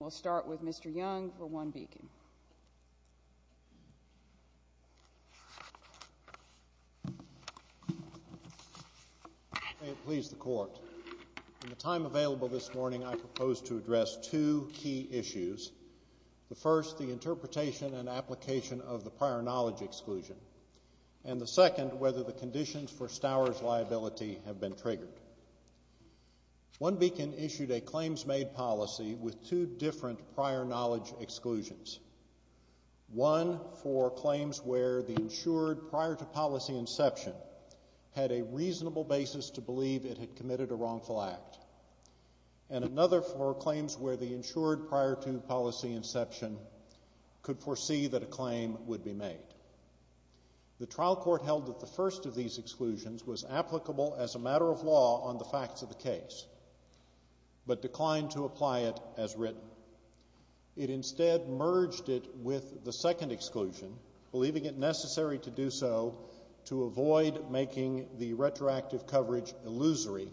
We'll start with Mr. Young for OneBeacon. May it please the Court. In the time available this morning, I propose to address two key issues. The first, the interpretation and application of the prior knowledge exclusion. And the second, whether the conditions for Stowers' liability have been triggered. OneBeacon issued a claims-made policy with two different prior knowledge exclusions. One for claims where the insured prior to policy inception had a reasonable basis to believe it had committed a wrongful act. And another for claims where the insured prior to policy inception could foresee that a claim would be made. The trial court held that the first of these exclusions was applicable as a matter of law on the facts of the case, but declined to apply it as written. It instead merged it with the second exclusion, believing it necessary to do so to avoid making the retroactive coverage illusory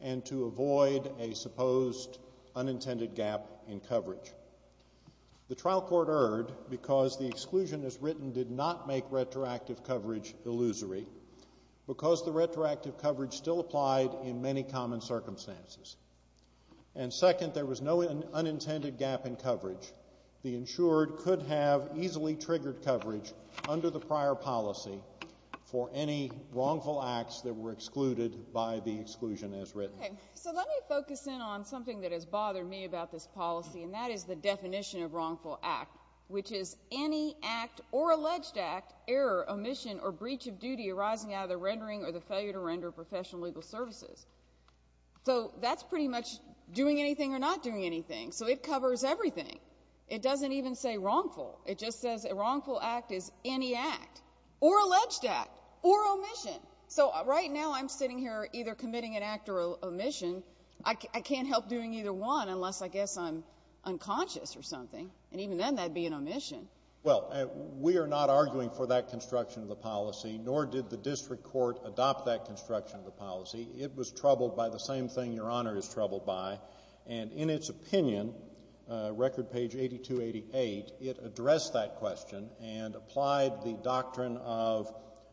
and to avoid a supposed unintended gap in coverage. The trial court erred because the exclusion as written did not make retroactive coverage illusory because the retroactive coverage still applied in many common circumstances. And second, there was no unintended gap in coverage. The insured could have easily triggered coverage under the prior policy for any wrongful acts that were excluded by the exclusion as written. Okay, so let me focus in on something that has bothered me about this policy, and that is the definition of wrongful act, which is any act or alleged act, error, omission, or breach of duty arising out of the rendering or the failure to render of professional legal services. So that's pretty much doing anything or not doing anything, so it covers everything. It doesn't even say wrongful. It just says a wrongful act is any act or alleged act or omission. So right now I'm sitting here either committing an act or omission. I can't help doing either one unless I guess I'm unconscious or something, and even then that would be an omission. Well, we are not arguing for that construction of the policy, nor did the district court adopt that construction of the policy. It was troubled by the same thing Your Honor is troubled by, and in its opinion, record page 8288, it addressed that question and applied the doctrine of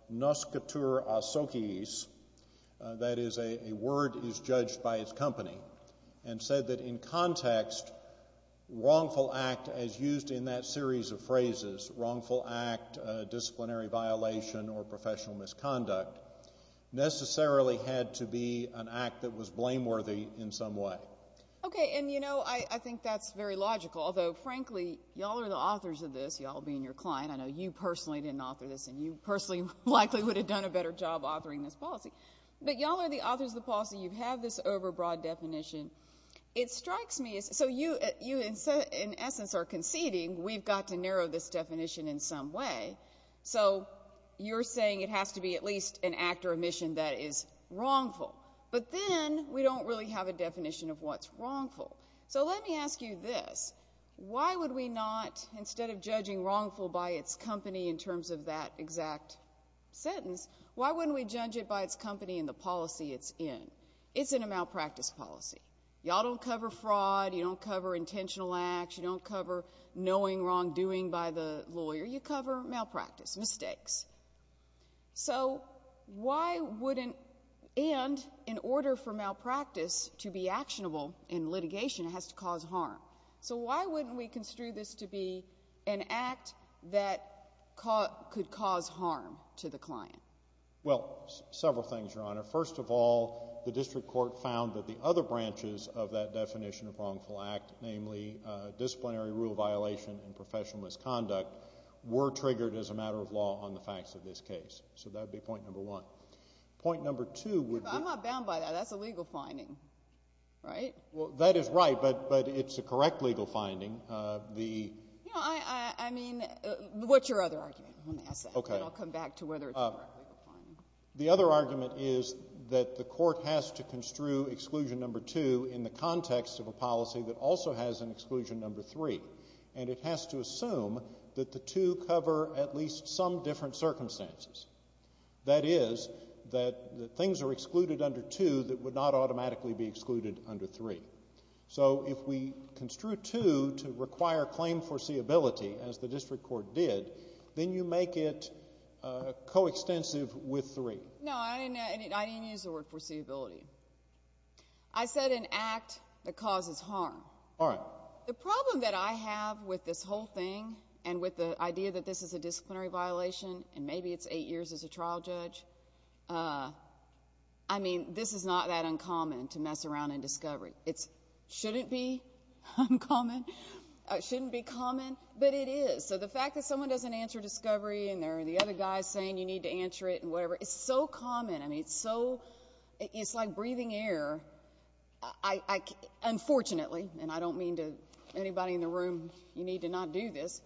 nuscatur asociis, that is a word is judged by its company, and said that in context wrongful act as used in that series of phrases, wrongful act, disciplinary violation, or professional misconduct, necessarily had to be an act that was blameworthy in some way. Okay, and, you know, I think that's very logical, although, frankly, y'all are the authors of this, y'all being your client. I know you personally didn't author this, and you personally likely would have done a better job authoring this policy, but y'all are the authors of the policy. You have this overbroad definition. It strikes me as so you in essence are conceding we've got to narrow this definition in some way, so you're saying it has to be at least an act or omission that is wrongful, but then we don't really have a definition of what's wrongful. So let me ask you this. Why would we not, instead of judging wrongful by its company in terms of that exact sentence, why wouldn't we judge it by its company and the policy it's in? It's in a malpractice policy. Y'all don't cover fraud. You don't cover intentional acts. You don't cover knowing wrongdoing by the lawyer. You cover malpractice, mistakes. So why wouldn't, and in order for malpractice to be actionable in litigation, it has to cause harm. So why wouldn't we construe this to be an act that could cause harm to the client? Well, several things, Your Honor. First of all, the district court found that the other branches of that definition of wrongful act, namely disciplinary rule violation and professional misconduct, were triggered as a matter of law on the facts of this case. So that would be point number one. Point number two would be. I'm not bound by that. That's a legal finding, right? Well, that is right, but it's a correct legal finding. You know, I mean, what's your other argument? Let me ask that, and then I'll come back to whether it's a correct legal finding. The other argument is that the court has to construe exclusion number two in the context of a policy that also has an exclusion number three, and it has to assume that the two cover at least some different circumstances. That is, that things are excluded under two that would not automatically be excluded under three. So if we construe two to require claim foreseeability, as the district court did, then you make it coextensive with three. No, I didn't use the word foreseeability. I said an act that causes harm. All right. Well, the problem that I have with this whole thing and with the idea that this is a disciplinary violation, and maybe it's eight years as a trial judge, I mean, this is not that uncommon to mess around in discovery. It shouldn't be uncommon. It shouldn't be common, but it is. So the fact that someone doesn't answer discovery and there are the other guys saying you need to answer it and whatever, it's so common. I mean, it's like breathing air. Unfortunately, and I don't mean to anybody in the room, you need to not do this,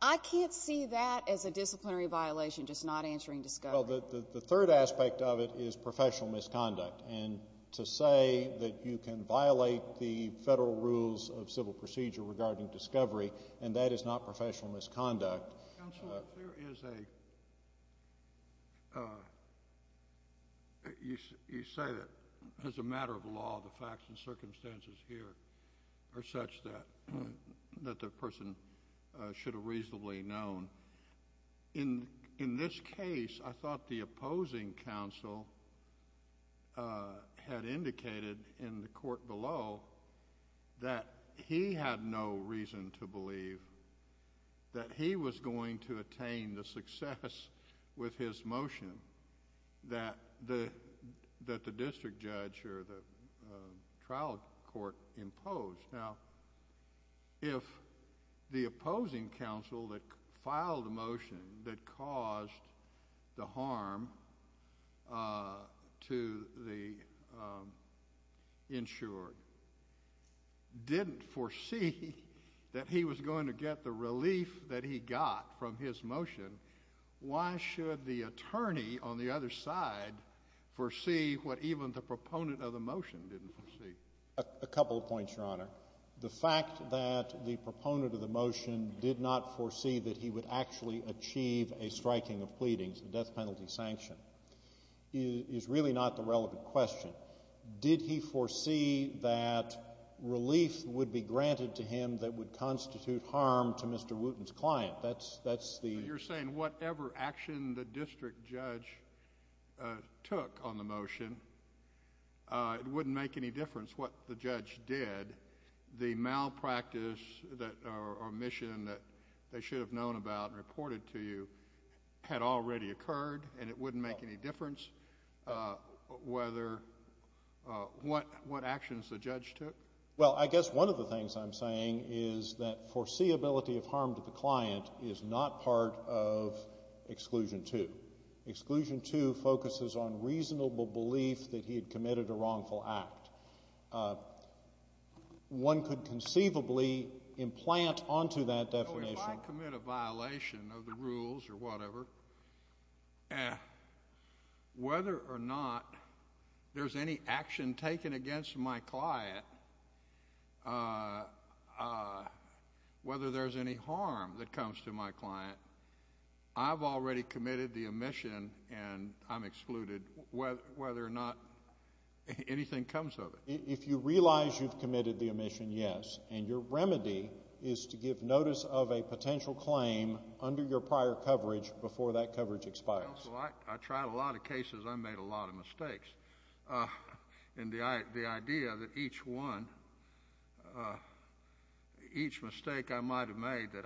I can't see that as a disciplinary violation, just not answering discovery. Well, the third aspect of it is professional misconduct, and to say that you can violate the federal rules of civil procedure regarding discovery, and that is not professional misconduct. Counsel, if there is a—you say that as a matter of law, the facts and circumstances here are such that the person should have reasonably known. In this case, I thought the opposing counsel had indicated in the court below that he had no reason to believe that he was going to attain the success with his motion that the district judge or the trial court imposed. Now, if the opposing counsel that filed the motion that caused the harm to the insured didn't foresee that he was going to get the relief that he got from his motion, why should the attorney on the other side foresee what even the proponent of the motion didn't foresee? A couple of points, Your Honor. The fact that the proponent of the motion did not foresee that he would actually achieve a striking of pleadings, a death penalty sanction, is really not the relevant question. Did he foresee that relief would be granted to him that would constitute harm to Mr. Wooten's client? That's the— You're saying whatever action the district judge took on the motion, it wouldn't make any difference what the judge did. The malpractice or omission that they should have known about and reported to you had already occurred, and it wouldn't make any difference whether—what actions the judge took? Well, I guess one of the things I'm saying is that foreseeability of harm to the client is not part of Exclusion 2. Exclusion 2 focuses on reasonable belief that he had committed a wrongful act. One could conceivably implant onto that definition— So if I commit a violation of the rules or whatever, whether or not there's any action taken against my client, whether there's any harm that comes to my client, I've already committed the omission, and I'm excluded whether or not anything comes of it. If you realize you've committed the omission, yes. And your remedy is to give notice of a potential claim under your prior coverage before that coverage expires. Well, I tried a lot of cases. I made a lot of mistakes. And the idea that each one—each mistake I might have made that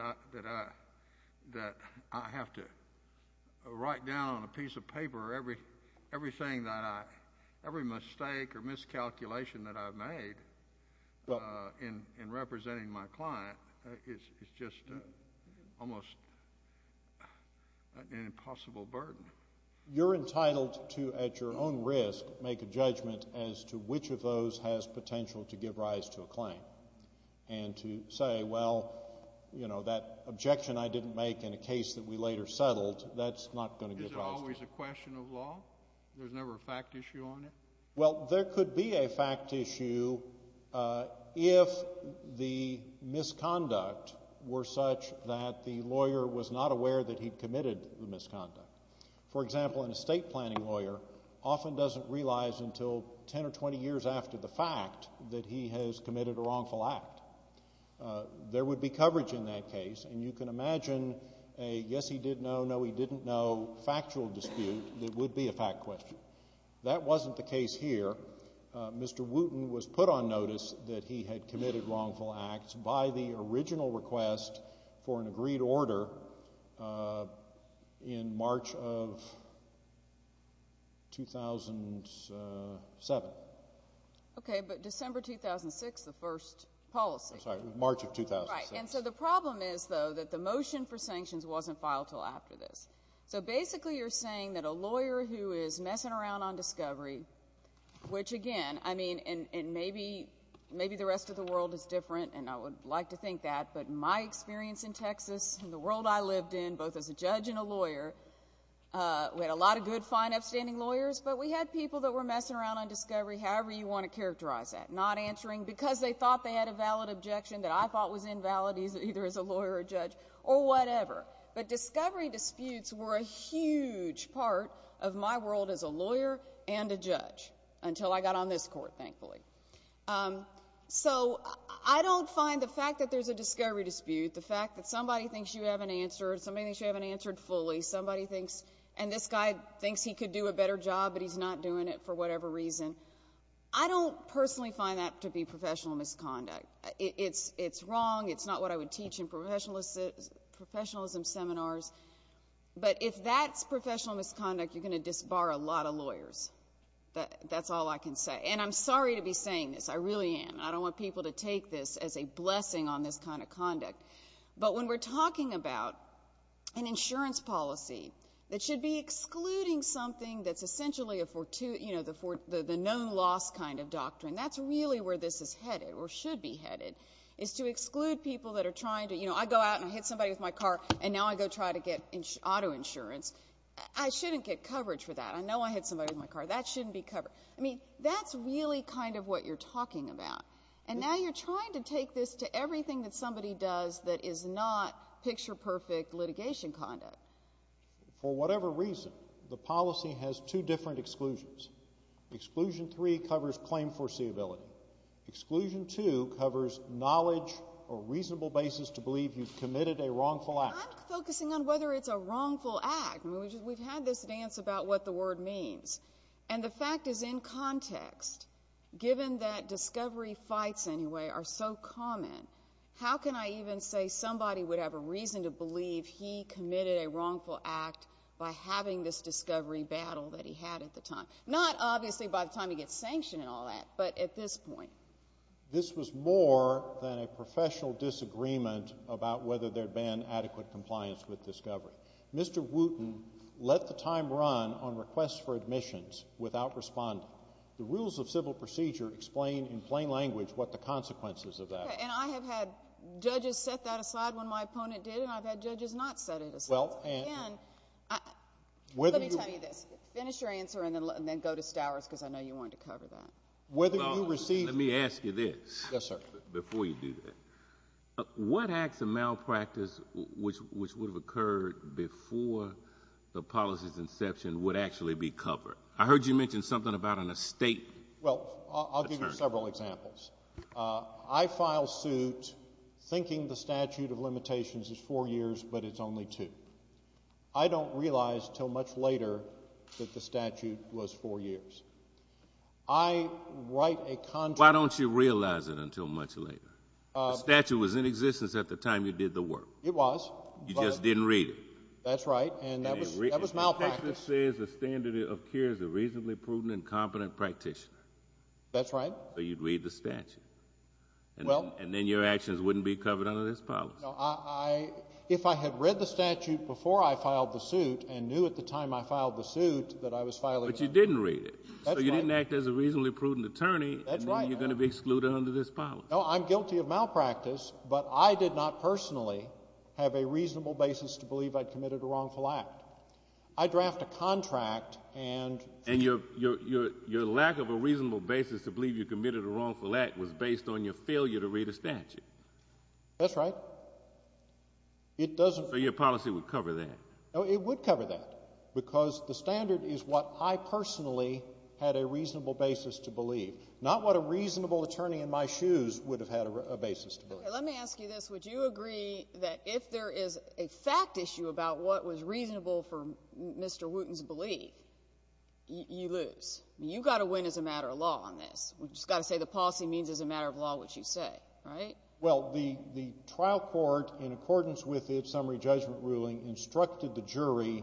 I have to write down on a piece of paper or everything that I—every mistake or miscalculation that I've made in representing my client is just almost an impossible burden. You're entitled to, at your own risk, make a judgment as to which of those has potential to give rise to a claim and to say, well, you know, that objection I didn't make in a case that we later settled, that's not going to give rise to it. Is it always a question of law? There's never a fact issue on it? Well, there could be a fact issue if the misconduct were such that the lawyer was not aware that he'd committed the misconduct. For example, an estate planning lawyer often doesn't realize until 10 or 20 years after the fact that he has committed a wrongful act. There would be coverage in that case, and you can imagine a yes-he-did-no, no-he-didn't-no factual dispute that would be a fact question. That wasn't the case here. Mr. Wooten was put on notice that he had committed wrongful acts by the original request for an agreed order in March of 2007. Okay, but December 2006, the first policy. I'm sorry, March of 2007. Right, and so the problem is, though, that the motion for sanctions wasn't filed until after this. So basically you're saying that a lawyer who is messing around on discovery, which again, I mean, and maybe the rest of the world is different, and I would like to think that, but my experience in Texas and the world I lived in, both as a judge and a lawyer, we had a lot of good, fine, upstanding lawyers, but we had people that were messing around on discovery however you want to characterize that, not answering because they thought they had a valid objection that I thought was invalid either as a lawyer or judge or whatever. But discovery disputes were a huge part of my world as a lawyer and a judge until I got on this Court, thankfully. So I don't find the fact that there's a discovery dispute, the fact that somebody thinks you haven't answered, somebody thinks you haven't answered fully, somebody thinks, and this guy thinks he could do a better job, but he's not doing it for whatever reason, I don't personally find that to be professional misconduct. It's wrong, it's not what I would teach in professionalism seminars, but if that's professional misconduct, you're going to disbar a lot of lawyers. That's all I can say. And I'm sorry to be saying this, I really am. I don't want people to take this as a blessing on this kind of conduct. But when we're talking about an insurance policy that should be excluding something that's essentially a fortuitous, you know, the known loss kind of doctrine, that's really where this is headed or should be headed, is to exclude people that are trying to, you know, I go out and I hit somebody with my car and now I go try to get auto insurance. I shouldn't get coverage for that. I know I hit somebody with my car. That shouldn't be covered. I mean, that's really kind of what you're talking about. And now you're trying to take this to everything that somebody does that is not picture-perfect litigation conduct. For whatever reason, the policy has two different exclusions. Exclusion three covers claim foreseeability. Exclusion two covers knowledge or reasonable basis to believe you've committed a wrongful act. I'm focusing on whether it's a wrongful act. I mean, we've had this dance about what the word means. And the fact is in context, given that discovery fights anyway are so common, how can I even say somebody would have a reason to believe he committed a wrongful act by having this discovery battle that he had at the time? Not obviously by the time he gets sanctioned and all that, but at this point. This was more than a professional disagreement about whether there had been adequate compliance with discovery. Mr. Wooten let the time run on requests for admissions without responding. The rules of civil procedure explain in plain language what the consequences of that are. And I have had judges set that aside when my opponent did, and I've had judges not set it aside. Again, let me tell you this. Finish your answer and then go to Stowers because I know you wanted to cover that. Let me ask you this. Yes, sir. Before you do that. What acts of malpractice which would have occurred before the policy's inception would actually be covered? I heard you mention something about an estate. Well, I'll give you several examples. I file suit thinking the statute of limitations is four years, but it's only two. I don't realize until much later that the statute was four years. I write a contract. Why don't you realize it until much later? The statute was in existence at the time you did the work. It was. You just didn't read it. That's right. And that was malpractice. The statute says the standard of care is a reasonably prudent and competent practitioner. That's right. So you'd read the statute. Well. And then your actions wouldn't be covered under this policy. If I had read the statute before I filed the suit and knew at the time I filed the suit that I was filing the statute. But you didn't read it. That's right. So you didn't act as a reasonably prudent attorney. That's right. And then you're going to be excluded under this policy. No, I'm guilty of malpractice, but I did not personally have a reasonable basis to believe I'd committed a wrongful act. I draft a contract and... And your lack of a reasonable basis to believe you committed a wrongful act was based on your failure to read a statute. That's right. It doesn't... So your policy would cover that. No, it would cover that because the standard is what I personally had a reasonable basis to believe, not what a reasonable attorney in my shoes would have had a basis to believe. Okay, let me ask you this. Would you agree that if there is a fact issue about what was reasonable for Mr. Wooten's belief, you lose? I mean, you've got to win as a matter of law on this. We've just got to say the policy means as a matter of law what you say, right? Well, the trial court, in accordance with its summary judgment ruling, instructed the jury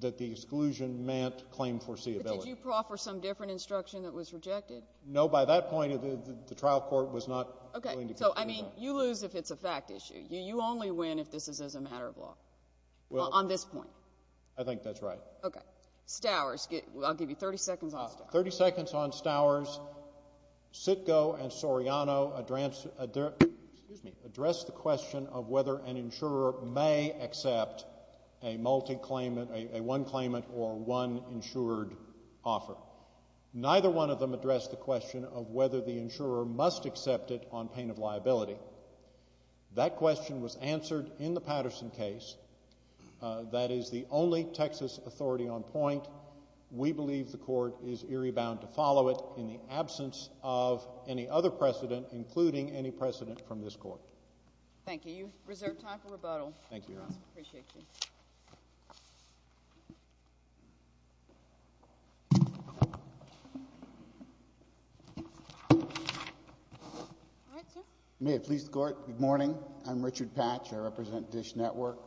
that the exclusion meant claim foreseeability. But did you proffer some different instruction that was rejected? No, by that point, the trial court was not going to... I mean, you lose if it's a fact issue. You only win if this is as a matter of law on this point. I think that's right. Okay. Stowers, I'll give you 30 seconds on Stowers. 30 seconds on Stowers. Sitko and Soriano addressed the question of whether an insurer may accept a multi-claimant, a one-claimant or one-insured offer. Neither one of them addressed the question of whether the insurer must accept it on pain of liability. That question was answered in the Patterson case. That is the only Texas authority on point. We believe the court is eerie bound to follow it in the absence of any other precedent, including any precedent from this court. Thank you. You've reserved time for rebuttal. Thank you, Your Honor. Appreciate you. All right, sir. May it please the Court, good morning. I'm Richard Patch. I represent Dish Network.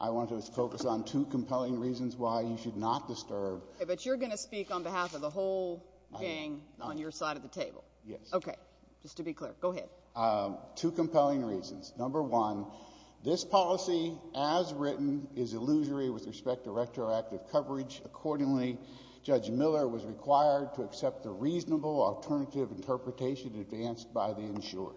I want to focus on two compelling reasons why you should not disturb. Okay, but you're going to speak on behalf of the whole gang on your side of the table. Yes. Okay. Just to be clear. Go ahead. Two compelling reasons. Number one, this policy as written is illusory with respect to retroactive coverage. Accordingly, Judge Miller was required to accept the reasonable alternative interpretation advanced by the insurer.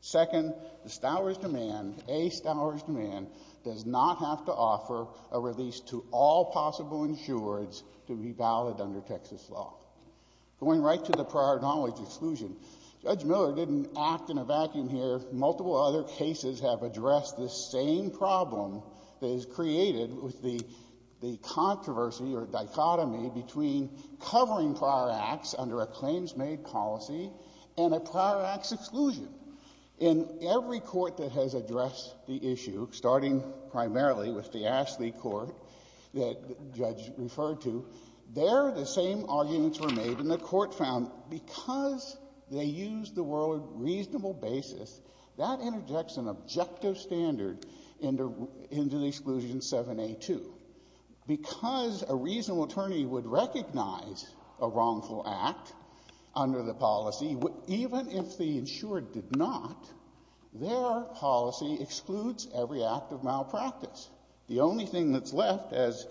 Second, the Stowers demand, a Stowers demand, does not have to offer a release to all possible insureds to be valid under Texas law. Going right to the prior knowledge exclusion, Judge Miller didn't act in a vacuum here. The multiple other cases have addressed the same problem that is created with the controversy or dichotomy between covering prior acts under a claims-made policy and a prior acts exclusion. In every court that has addressed the issue, starting primarily with the Ashley Court that the judge referred to, there the same arguments were made. And the Court found because they used the word reasonable basis, that interjects an objective standard into the exclusion 7A2. Because a reasonable attorney would recognize a wrongful act under the policy, even if the insured did not, their policy excludes every act of malpractice. The only thing that's left, as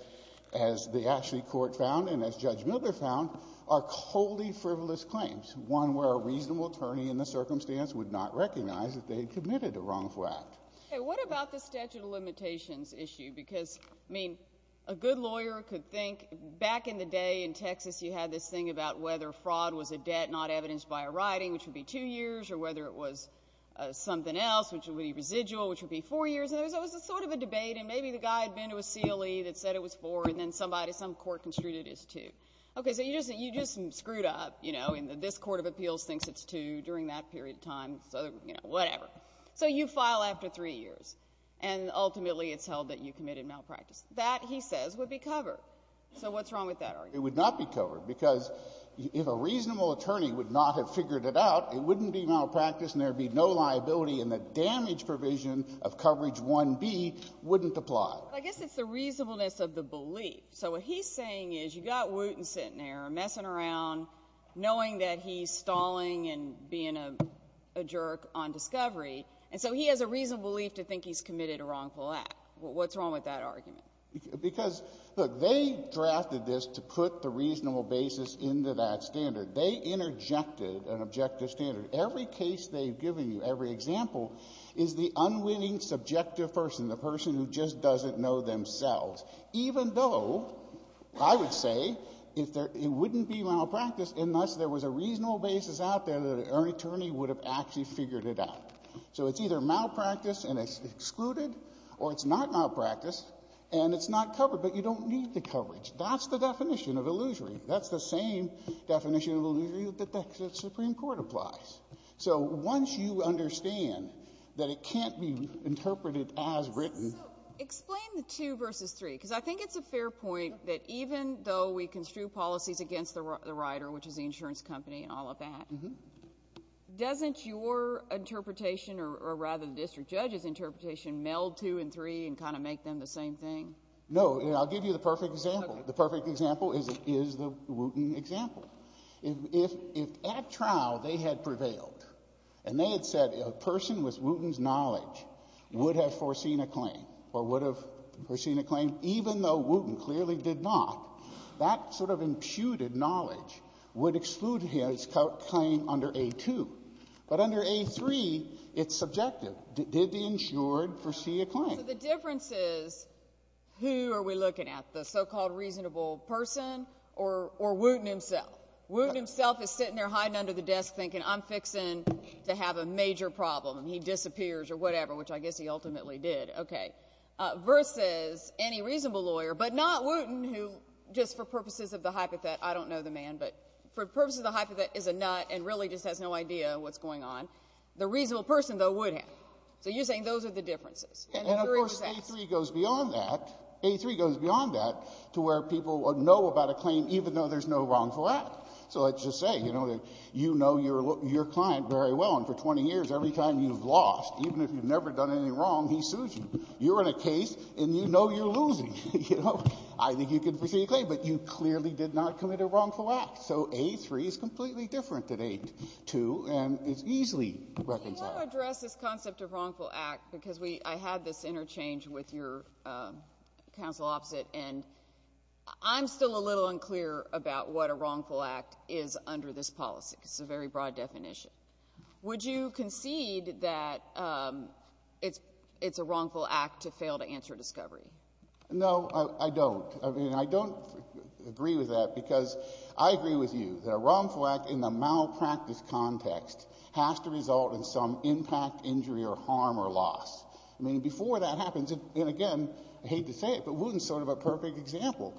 the Ashley Court found and as Judge Miller found, are coldly frivolous claims, one where a reasonable attorney in the circumstance would not recognize that they had committed a wrongful act. Okay. What about the statute of limitations issue? Because, I mean, a good lawyer could think back in the day in Texas you had this thing about whether fraud was a debt not evidenced by a writing, which would be two years, or whether it was something else, which would be residual, which would be four years. And there was sort of a debate, and maybe the guy had been to a CLE that said it was four, and then somebody, some court construed it as two. Okay. So you just screwed up, you know, and this court of appeals thinks it's two during that period of time, so, you know, whatever. So you file after three years, and ultimately it's held that you committed malpractice. That, he says, would be covered. So what's wrong with that argument? It would not be covered, because if a reasonable attorney would not have figured it out, it wouldn't be malpractice, and there would be no liability in the damage provision of coverage 1B wouldn't apply. Well, I guess it's the reasonableness of the belief. So what he's saying is you've got Wooten sitting there messing around, knowing that he's stalling and being a jerk on discovery, and so he has a reasonable belief to think he's committed a wrongful act. What's wrong with that argument? Because, look, they drafted this to put the reasonable basis into that standard. They interjected an objective standard. Every case they've given you, every example, is the unwinning subjective person, the person who just doesn't know themselves, even though, I would say, if there — it wouldn't be malpractice unless there was a reasonable basis out there that an attorney would have actually figured it out. So it's either malpractice and it's excluded, or it's not malpractice and it's not covered, but you don't need the coverage. That's the definition of illusory. That's the same definition of illusory that the Supreme Court applies. So once you understand that it can't be interpreted as written — So explain the two versus three, because I think it's a fair point that even though we construe policies against the rider, which is the insurance company and all of that, doesn't your interpretation, or rather the district judge's interpretation, meld two and three and kind of make them the same thing? No, and I'll give you the perfect example. The perfect example is the Wooten example. If at trial they had prevailed and they had said a person with Wooten's knowledge would have foreseen a claim or would have foreseen a claim, even though Wooten clearly did not, that sort of imputed knowledge would exclude his claim under A2. But under A3, it's subjective. Did the insured foresee a claim? So the difference is who are we looking at, the so-called reasonable person or Wooten himself? Wooten himself is sitting there hiding under the desk thinking, I'm fixing to have a major problem, and he disappears or whatever, which I guess he ultimately did. Okay. Versus any reasonable lawyer, but not Wooten, who just for purposes of the hypothet, I don't know the man, but for purposes of the hypothet, is a nut and really just has no idea what's going on. The reasonable person, though, would have. So you're saying those are the differences. And the jury decides. And, of course, A3 goes beyond that. A3 goes beyond that to where people know about a claim even though there's no wrongful act. So let's just say, you know, that you know your client very well, and for 20 years every time you've lost, even if you've never done anything wrong, he sues you. You're in a case, and you know you're losing. You know? I think you can foresee a claim, but you clearly did not commit a wrongful act. So A3 is completely different than A2, and it's easily reconciled. I want to address this concept of wrongful act because I had this interchange with your counsel opposite, and I'm still a little unclear about what a wrongful act is under this policy. It's a very broad definition. Would you concede that it's a wrongful act to fail to answer discovery? No, I don't. I mean, I don't agree with that because I agree with you that a wrongful act in the malpractice context has to result in some impact, injury, or harm or loss. I mean, before that happens, and again, I hate to say it, but Wooten's sort of a perfect example.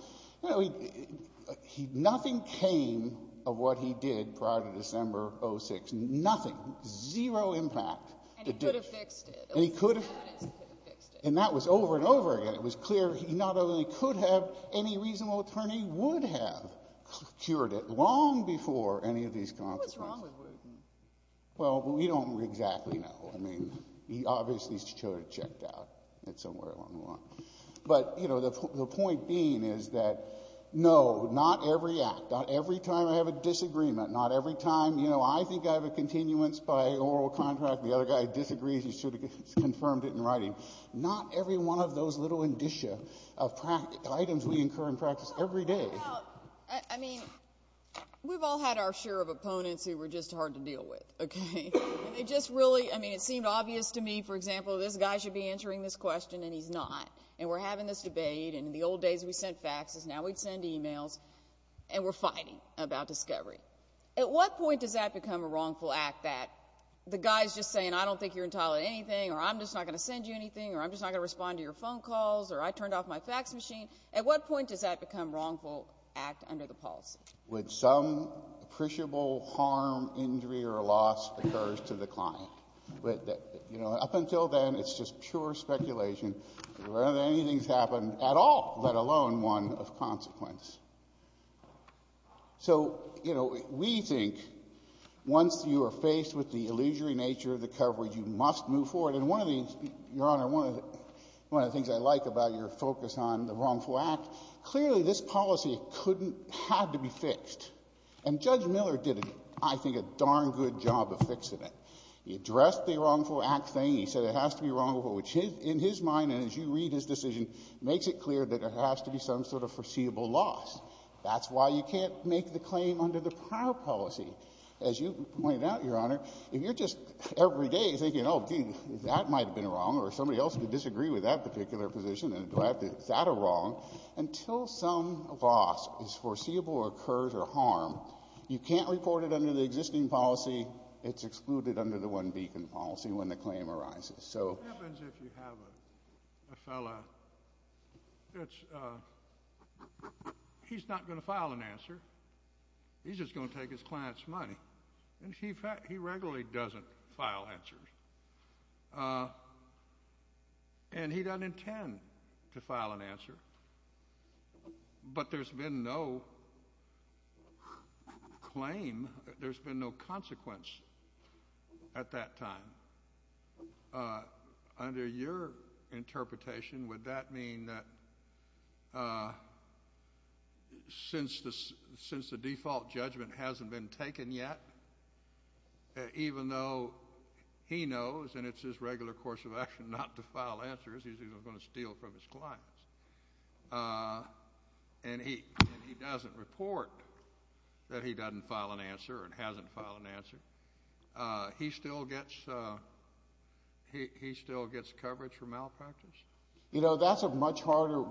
Nothing came of what he did prior to December of 2006. Nothing. Zero impact. And he could have fixed it. And he could have. And that was over and over again. It was clear he not only could have, any reasonable attorney would have cured it long before any of these consequences. What's wrong with Wooten? Well, we don't exactly know. I mean, he obviously should have checked out at somewhere along the line. But, you know, the point being is that, no, not every act, not every time I have a disagreement, not every time, you know, I think I have a continuance by oral contract, the other guy disagrees, he should have confirmed it in writing. Not every one of those little indicia of items we incur in practice every day. Well, I mean, we've all had our share of opponents who were just hard to deal with, okay? And they just really, I mean, it seemed obvious to me, for example, this guy should be answering this question, and he's not. And we're having this debate, and in the old days we sent faxes, now we'd send emails, and we're fighting about discovery. At what point does that become a wrongful act, that the guy's just saying, I don't think you're entitled to anything, or I'm just not going to send you anything, or I'm just not going to respond to your phone calls, or I turned off my fax machine? At what point does that become wrongful act under the policy? With some appreciable harm, injury, or loss occurs to the client. But, you know, up until then, it's just pure speculation whether anything's happened at all, let alone one of consequence. So, you know, we think once you are faced with the illusory nature of the coverage, you must move forward. And one of the, Your Honor, one of the things I like about your focus on the wrongful act, clearly this policy couldn't, had to be fixed. And Judge Miller did, I think, a darn good job of fixing it. He addressed the wrongful act thing. He said it has to be wrongful, which in his mind, and as you read his decision, makes it clear that there has to be some sort of foreseeable loss. That's why you can't make the claim under the prior policy. As you pointed out, Your Honor, if you're just every day thinking, oh, gee, that might have been wrong, or somebody else could disagree with that particular position, and do I have to, is that a wrong? Until some loss is foreseeable or occurs or harm, you can't report it under the existing policy. It's excluded under the one beacon policy when the claim arises. So. What happens if you have a fellow, it's, he's not going to file an answer. He's just going to take his client's money. And he regularly doesn't file answers. And he doesn't intend to file an answer. But there's been no claim, there's been no consequence at that time. Under your interpretation, would that mean that since the default judgment hasn't been taken yet, even though he knows, and it's his regular course of action not to file answers, he's even going to steal from his clients. And he doesn't report that he doesn't file an answer or hasn't filed an answer. He still gets, he still gets coverage for malpractice? You know, that's a much harder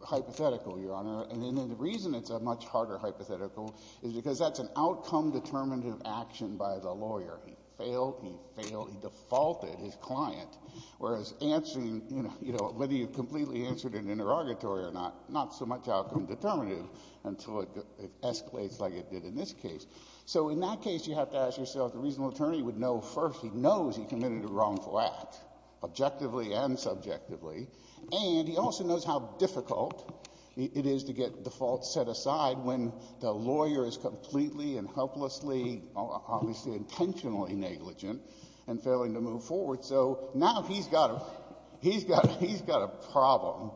hypothetical, Your Honor. And the reason it's a much harder hypothetical is because that's an outcome determinative action by the lawyer. He failed, he failed, he defaulted his client. Whereas answering, you know, whether you completely answered an interrogatory or not, not so much outcome determinative until it escalates like it did in this case. So in that case, you have to ask yourself, the reasonable attorney would know first he knows he committed a wrongful act, objectively and subjectively. And he also knows how difficult it is to get defaults set aside when the lawyer is completely and helplessly, obviously intentionally negligent and failing to move forward. So now he's got, he's got, he's got a problem.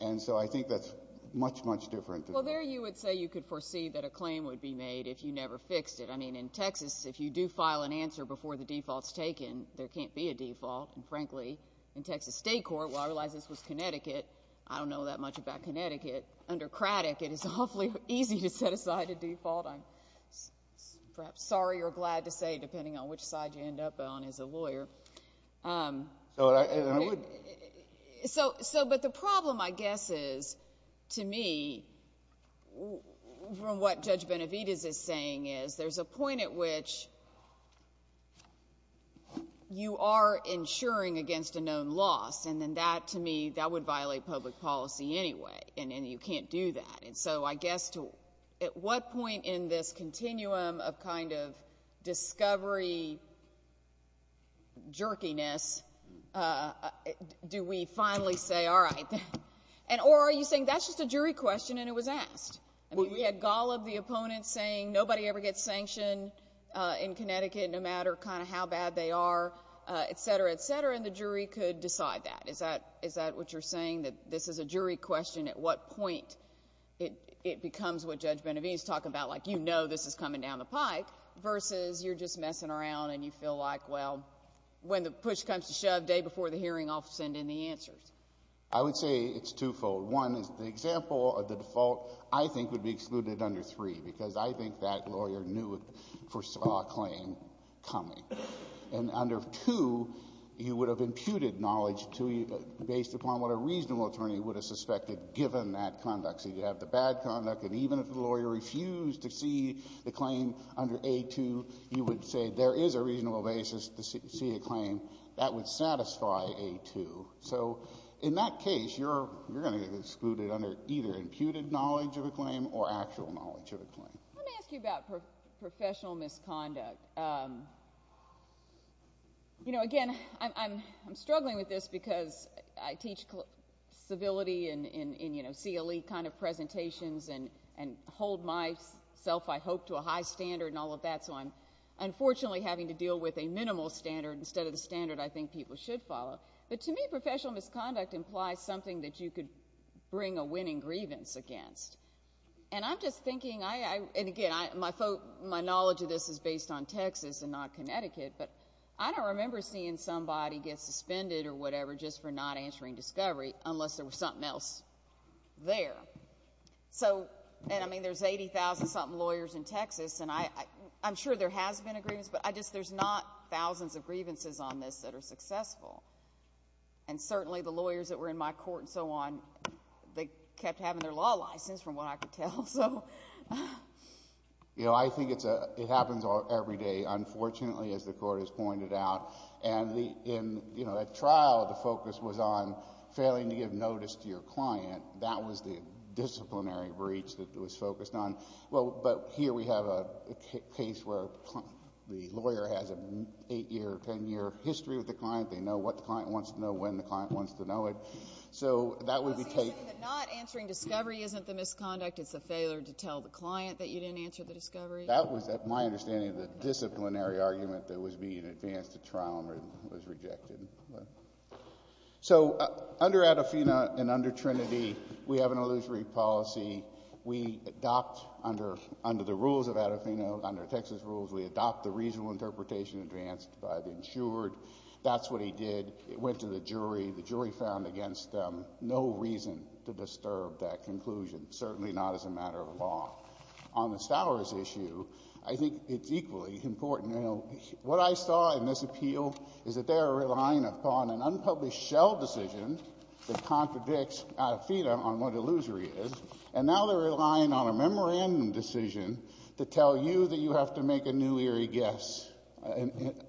And so I think that's much, much different. Well, there you would say you could foresee that a claim would be made if you never fixed it. I mean, in Texas, if you do file an answer before the default's taken, there can't be a default. And frankly, in Texas state court, well, I realize this was Connecticut. I don't know that much about Connecticut. Under Craddick, it is awfully easy to set aside a default. I'm perhaps sorry or glad to say, depending on which side you end up on as a lawyer. So, but the problem, I guess, is, to me, from what Judge Benavidez is saying, is there's a point at which you are insuring against a known loss. And then that, to me, that would violate public policy anyway. And you can't do that. And so I guess to, at what point in this continuum of kind of discovery, jerkiness, do we finally say, all right. Or are you saying that's just a jury question and it was asked? I mean, we had golloped the opponent saying nobody ever gets sanctioned in Connecticut no matter kind of how bad they are, et cetera, et cetera. And the jury could decide that. Is that what you're saying, that this is a jury question? At what point it becomes what Judge Benavidez is talking about, like, you know this is coming down the pike versus you're just messing around and you feel like, well, when the push comes to shove, day before the hearing, I'll send in the answers? I would say it's twofold. One is the example of the default, I think, would be excluded under three because I think that lawyer knew, foresaw a claim coming. And under two, you would have imputed knowledge to you based upon what a reasonable attorney would have suspected given that conduct. So you have the bad conduct, and even if the lawyer refused to see the claim under A2, you would say there is a reasonable basis to see a claim that would satisfy A2. So in that case, you're going to get excluded under either imputed knowledge of a claim or actual knowledge of a claim. Let me ask you about professional misconduct. You know, again, I'm struggling with this because I teach civility in CLE kind of presentations and hold myself, I hope, to a high standard and all of that, so I'm unfortunately having to deal with a minimal standard instead of the standard I think people should follow. But to me, professional misconduct implies something that you could bring a winning grievance against. And I'm just thinking, and again, my knowledge of this is based on Texas and not Connecticut, but I don't remember seeing somebody get suspended or whatever just for not answering discovery unless there was something else there. And I mean, there's 80,000-something lawyers in Texas, and I'm sure there has been a grievance, but there's not thousands of grievances on this that are successful. And certainly the lawyers that were in my court and so on, they kept having their law license from what I could tell. You know, I think it happens every day, unfortunately, as the Court has pointed out. And in that trial, the focus was on failing to give notice to your client. That was the disciplinary breach that it was focused on. But here we have a case where the lawyer has an 8-year or 10-year history with the client. They know what the client wants to know when the client wants to know it. So that would be taken. So you're saying that not answering discovery isn't the misconduct, it's the failure to tell the client that you didn't answer the discovery? That was, at my understanding, the disciplinary argument that was being advanced at trial and was rejected. So under Adafina and under Trinity, we have an illusory policy. We adopt under the rules of Adafina, under Texas rules, we adopt the reasonable interpretation advanced by the insured. That's what he did. It went to the jury. The jury found against them no reason to disturb that conclusion, certainly not as a matter of law. On the Stowers issue, I think it's equally important. You know, what I saw in this appeal is that they are relying upon an unpublished shell decision that contradicts Adafina on what illusory is, and now they're relying on a memorandum decision to tell you that you have to make a new eerie guess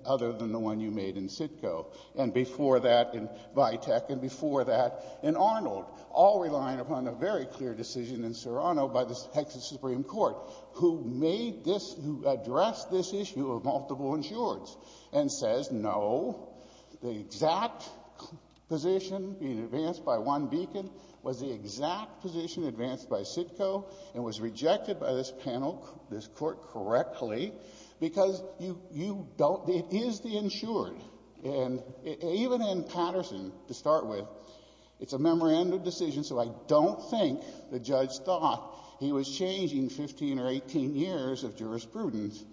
other than the one you made in Sitco. And before that, in Vitek, and before that, in Arnold, all relying upon a very clear decision in Serrano by the Texas Supreme Court, who made this — who addressed this issue of multiple insureds and says, no, the exact position being advanced by one beacon was the exact position advanced by Sitco and was rejected by this panel, this Court, correctly, because you don't It is the insured. And even in Patterson, to start with, it's a memorandum decision, so I don't think the judge thought he was changing 15 or 18 years of jurisprudence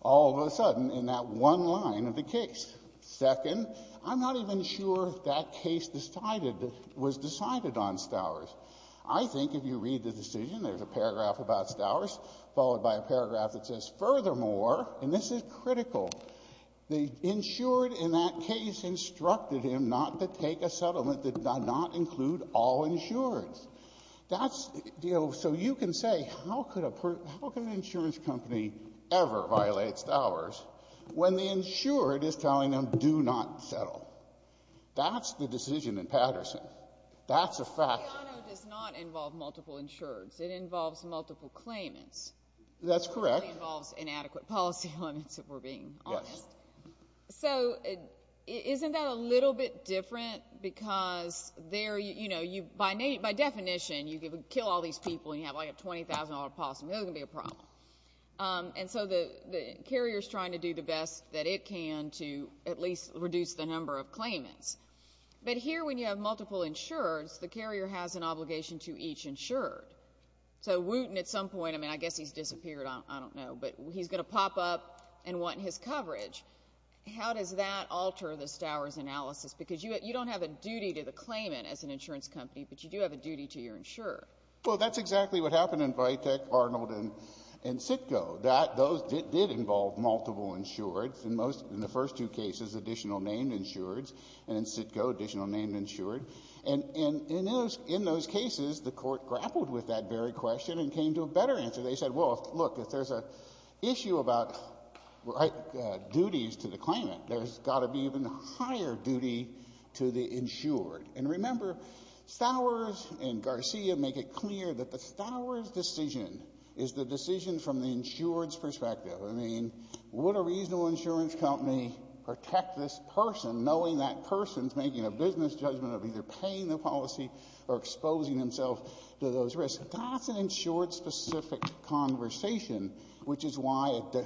all of a sudden in that one line of the case. Second, I'm not even sure that case decided — was decided on Stowers. I think if you read the decision, there's a paragraph about Stowers, followed by a paragraph that says, Furthermore, and this is critical, the insured in that case instructed him not to take a settlement that did not include all insureds. That's — so you can say, how could a — how can an insurance company ever violate Stowers when the insured is telling them, do not settle? That's the decision in Patterson. That's a fact. But Serrano does not involve multiple insureds. It involves multiple claimants. That's correct. It involves inadequate policy limits, if we're being honest. Yes. So isn't that a little bit different? Because there — you know, by definition, you could kill all these people and you have, like, a $20,000 policy, and that's going to be a problem. And so the carrier is trying to do the best that it can to at least reduce the number of claimants. But here, when you have multiple insureds, the carrier has an obligation to each insured. So Wooten, at some point — I mean, I guess he's disappeared. I don't know. But he's going to pop up and want his coverage. How does that alter the Stowers analysis? Because you don't have a duty to the claimant as an insurance company, but you do have a duty to your insured. Well, that's exactly what happened in Vitek, Arnold, and Citgo. Those did involve multiple insureds. In the first two cases, additional named insureds, and in Citgo, additional named insured. And in those cases, the Court grappled with that very question and came to a better answer. They said, well, look, if there's an issue about duties to the claimant, there's got to be an even higher duty to the insured. And remember, Stowers and Garcia make it clear that the Stowers decision is the decision from the insured's perspective. I mean, would a reasonable insurance company protect this person, knowing that person's making a business judgment of either paying the policy or exposing themselves to those risks? That's an insured-specific conversation, which is why a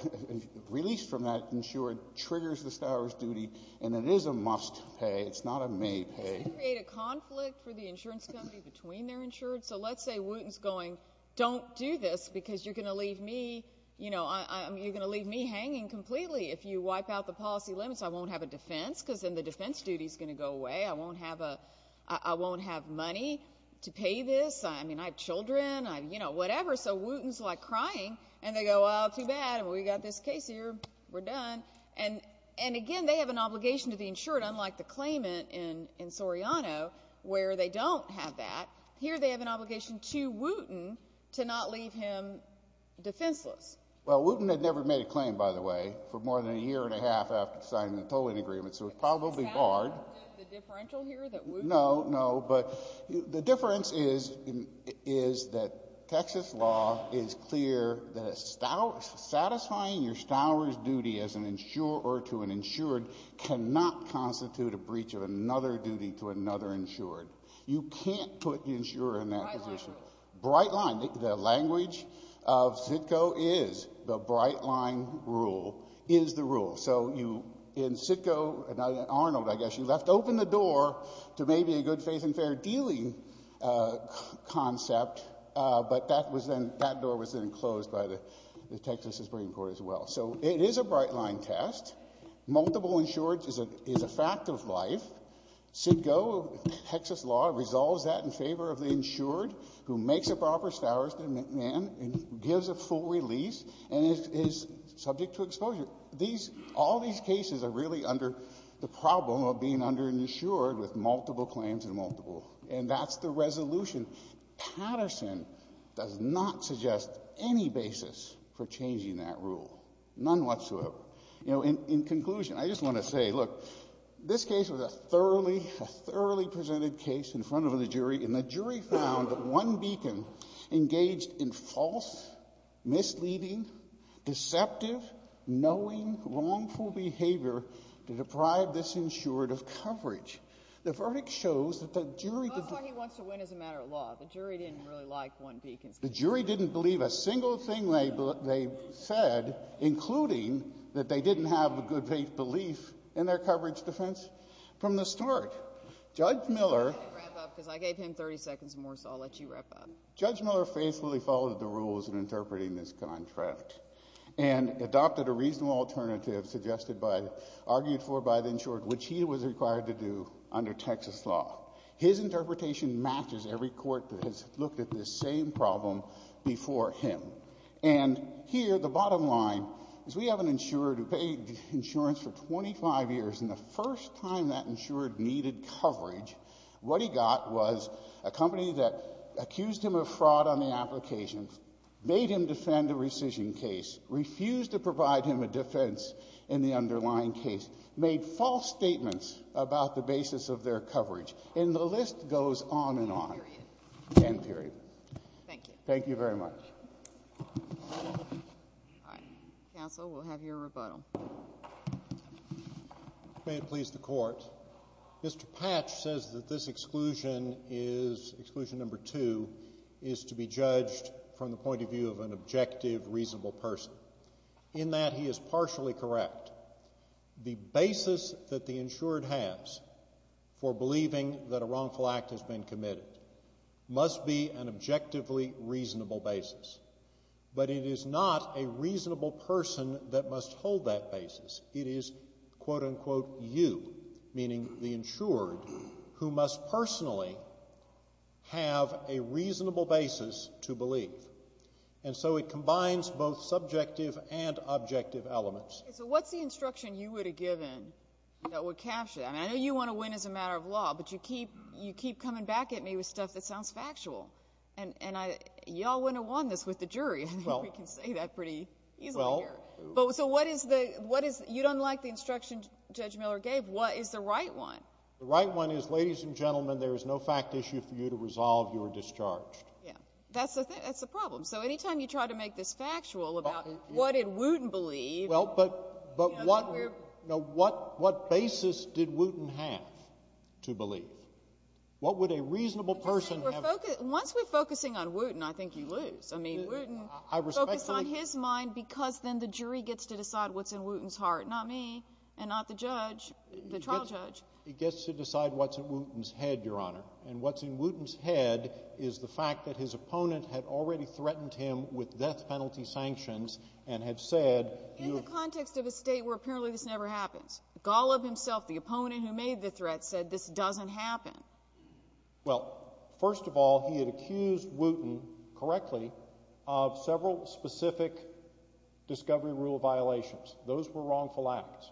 release from that insured triggers the Stowers duty, and it is a must-pay. It's not a made-pay. Does it create a conflict for the insurance company between their insureds? So let's say Wooten's going, don't do this because you're going to leave me hanging completely. If you wipe out the policy limits, I won't have a defense because then the defense duty is going to go away. I won't have money to pay this. I mean, I have children. I have, you know, whatever. So Wooten's like crying, and they go, well, too bad. We've got this case here. We're done. And, again, they have an obligation to the insured, unlike the claimant in Soriano where they don't have that. Here they have an obligation to Wooten to not leave him defenseless. Well, Wooten had never made a claim, by the way, for more than a year and a half after signing the tolling agreement, so it's probably barred. Is that the differential here that Wooten? No, no. But the difference is that Texas law is clear that satisfying your Stowers duty as an insurer to an insured cannot constitute a breach of another duty to another insured. You can't put the insurer in that position. Bright line. The language of CITCO is the bright line rule is the rule. So in CITCO, in Arnold, I guess, you left open the door to maybe a good faith and fair dealing concept, but that door was then closed by the Texas Supreme Court as well. So it is a bright line test. Multiple insureds is a fact of life. CITCO, Texas law, resolves that in favor of the insured who makes a proper Stowers demand and gives a full release and is subject to exposure. These — all these cases are really under the problem of being under an insured with multiple claims and multiple. And that's the resolution. Patterson does not suggest any basis for changing that rule, none whatsoever. You know, in conclusion, I just want to say, look, this case was a thoroughly, a thoroughly presented case in front of the jury, and the jury found that one beacon engaged in false, misleading, deceptive, knowing, wrongful behavior to deprive this insured of coverage. The verdict shows that the jury — But what he wants to win is a matter of law. The jury didn't really like one beacon. The jury didn't believe a single thing they said, including that they didn't have a good faith belief in their coverage defense from the start. Judge Miller — I'm going to wrap up because I gave him 30 seconds more, so I'll let you wrap up. Judge Miller faithfully followed the rules in interpreting this contract and adopted a reasonable alternative suggested by — argued for by the insured, which he was required to do under Texas law. His interpretation matches every court that has looked at this same problem before him. And here, the bottom line is we have an insured who paid insurance for 25 years, and the first time that insured needed coverage, what he got was a company that accused him of fraud on the application, made him defend a rescission case, refused to provide him a defense in the underlying case, made false statements about the basis of their claim, and the list goes on and on. End period. Thank you. Thank you very much. All right. Counsel, we'll have your rebuttal. May it please the Court. Mr. Patch says that this exclusion is — exclusion number two is to be judged from the point of view of an objective, reasonable person. In that, he is partially correct. The basis that the insured has for believing that a wrongful act has been committed must be an objectively reasonable basis. But it is not a reasonable person that must hold that basis. It is, quote-unquote, you, meaning the insured, who must personally have a reasonable basis to believe. And so it combines both subjective and objective elements. So what's the instruction you would have given that would capture that? I mean, I know you want to win as a matter of law, but you keep coming back at me with stuff that sounds factual. And y'all wouldn't have won this with the jury. I think we can say that pretty easily here. So what is the — you don't like the instruction Judge Miller gave. What is the right one? The right one is, ladies and gentlemen, there is no fact issue for you to resolve. You are discharged. Yeah. That's the problem. So any time you try to make this factual about what did Wooten believe — Well, but what basis did Wooten have to believe? What would a reasonable person have — Once we're focusing on Wooten, I think you lose. I mean, Wooten focused on his mind because then the jury gets to decide what's in Wooten's heart, not me and not the judge, the trial judge. He gets to decide what's in Wooten's head, Your Honor. And what's in Wooten's head is the fact that his opponent had already threatened him with death penalty sanctions and had said — In the context of a state where apparently this never happens. Golub himself, the opponent who made the threat, said this doesn't happen. Well, first of all, he had accused Wooten, correctly, of several specific discovery rule violations. Those were wrongful acts.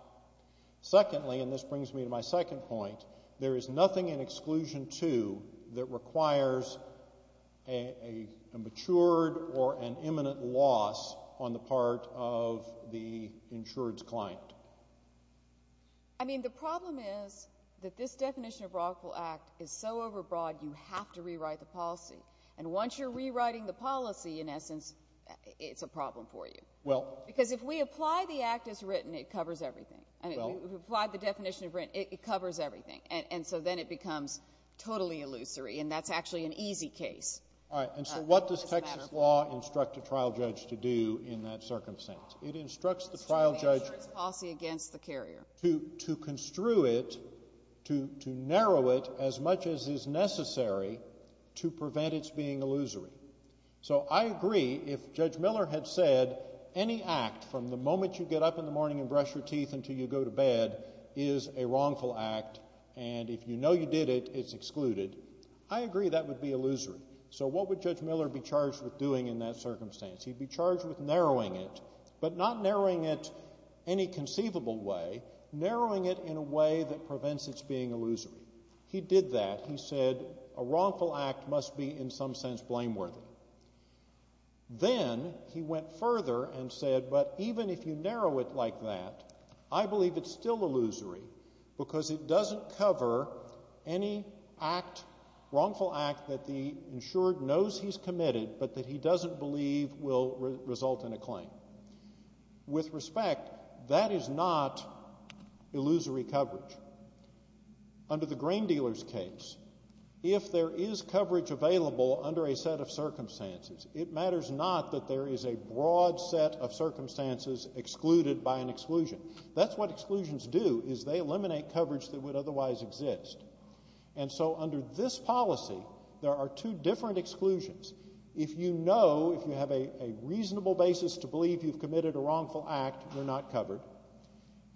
Secondly, and this brings me to my second point, there is nothing in Exclusion 2 that requires a matured or an imminent loss on the part of the insured's client. I mean, the problem is that this definition of wrongful act is so overbroad you have to rewrite the policy. And once you're rewriting the policy, in essence, it's a problem for you. Because if we apply the act as written, it covers everything. If we apply the definition as written, it covers everything. And so then it becomes totally illusory, and that's actually an easy case. All right. And so what does Texas law instruct a trial judge to do in that circumstance? It instructs the trial judge to construe it, to narrow it as much as is necessary to prevent its being illusory. So I agree if Judge Miller had said any act from the moment you get up in the morning and brush your teeth until you go to bed is a wrongful act, and if you know you did it, it's excluded, I agree that would be illusory. So what would Judge Miller be charged with doing in that circumstance? He'd be charged with narrowing it, but not narrowing it any conceivable way, narrowing it in a way that prevents its being illusory. He did that. He said a wrongful act must be in some sense blameworthy. Then he went further and said, but even if you narrow it like that, I believe it's still illusory because it doesn't cover any wrongful act that the insured knows he's committed but that he doesn't believe will result in a claim. With respect, that is not illusory coverage. Under the grain dealer's case, if there is coverage available under a set of circumstances, it matters not that there is a broad set of circumstances excluded by an exclusion. That's what exclusions do is they eliminate coverage that would otherwise exist. And so under this policy, there are two different exclusions. If you know, if you have a reasonable basis to believe you've committed a wrongful act, you're not covered.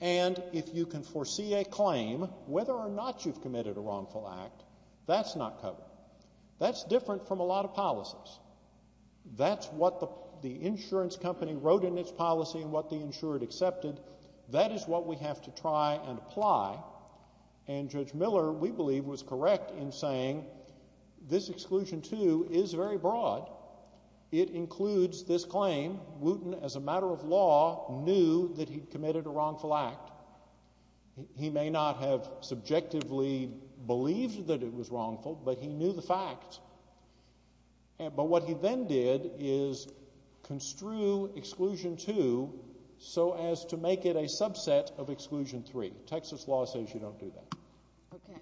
And if you can foresee a claim, whether or not you've committed a wrongful act, that's not covered. That's different from a lot of policies. That's what the insurance company wrote in its policy and what the insured accepted. That is what we have to try and apply. And Judge Miller, we believe, was correct in saying this exclusion, too, is very broad. It includes this claim, Wooten, as a matter of law, knew that he'd committed a wrongful act. He may not have subjectively believed that it was wrongful, but he knew the fact. But what he then did is construe exclusion two so as to make it a subset of exclusion three. Texas law says you don't do that. Okay.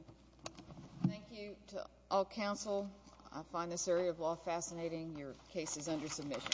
Thank you to all counsel. I find this area of law fascinating. Your case is under submission.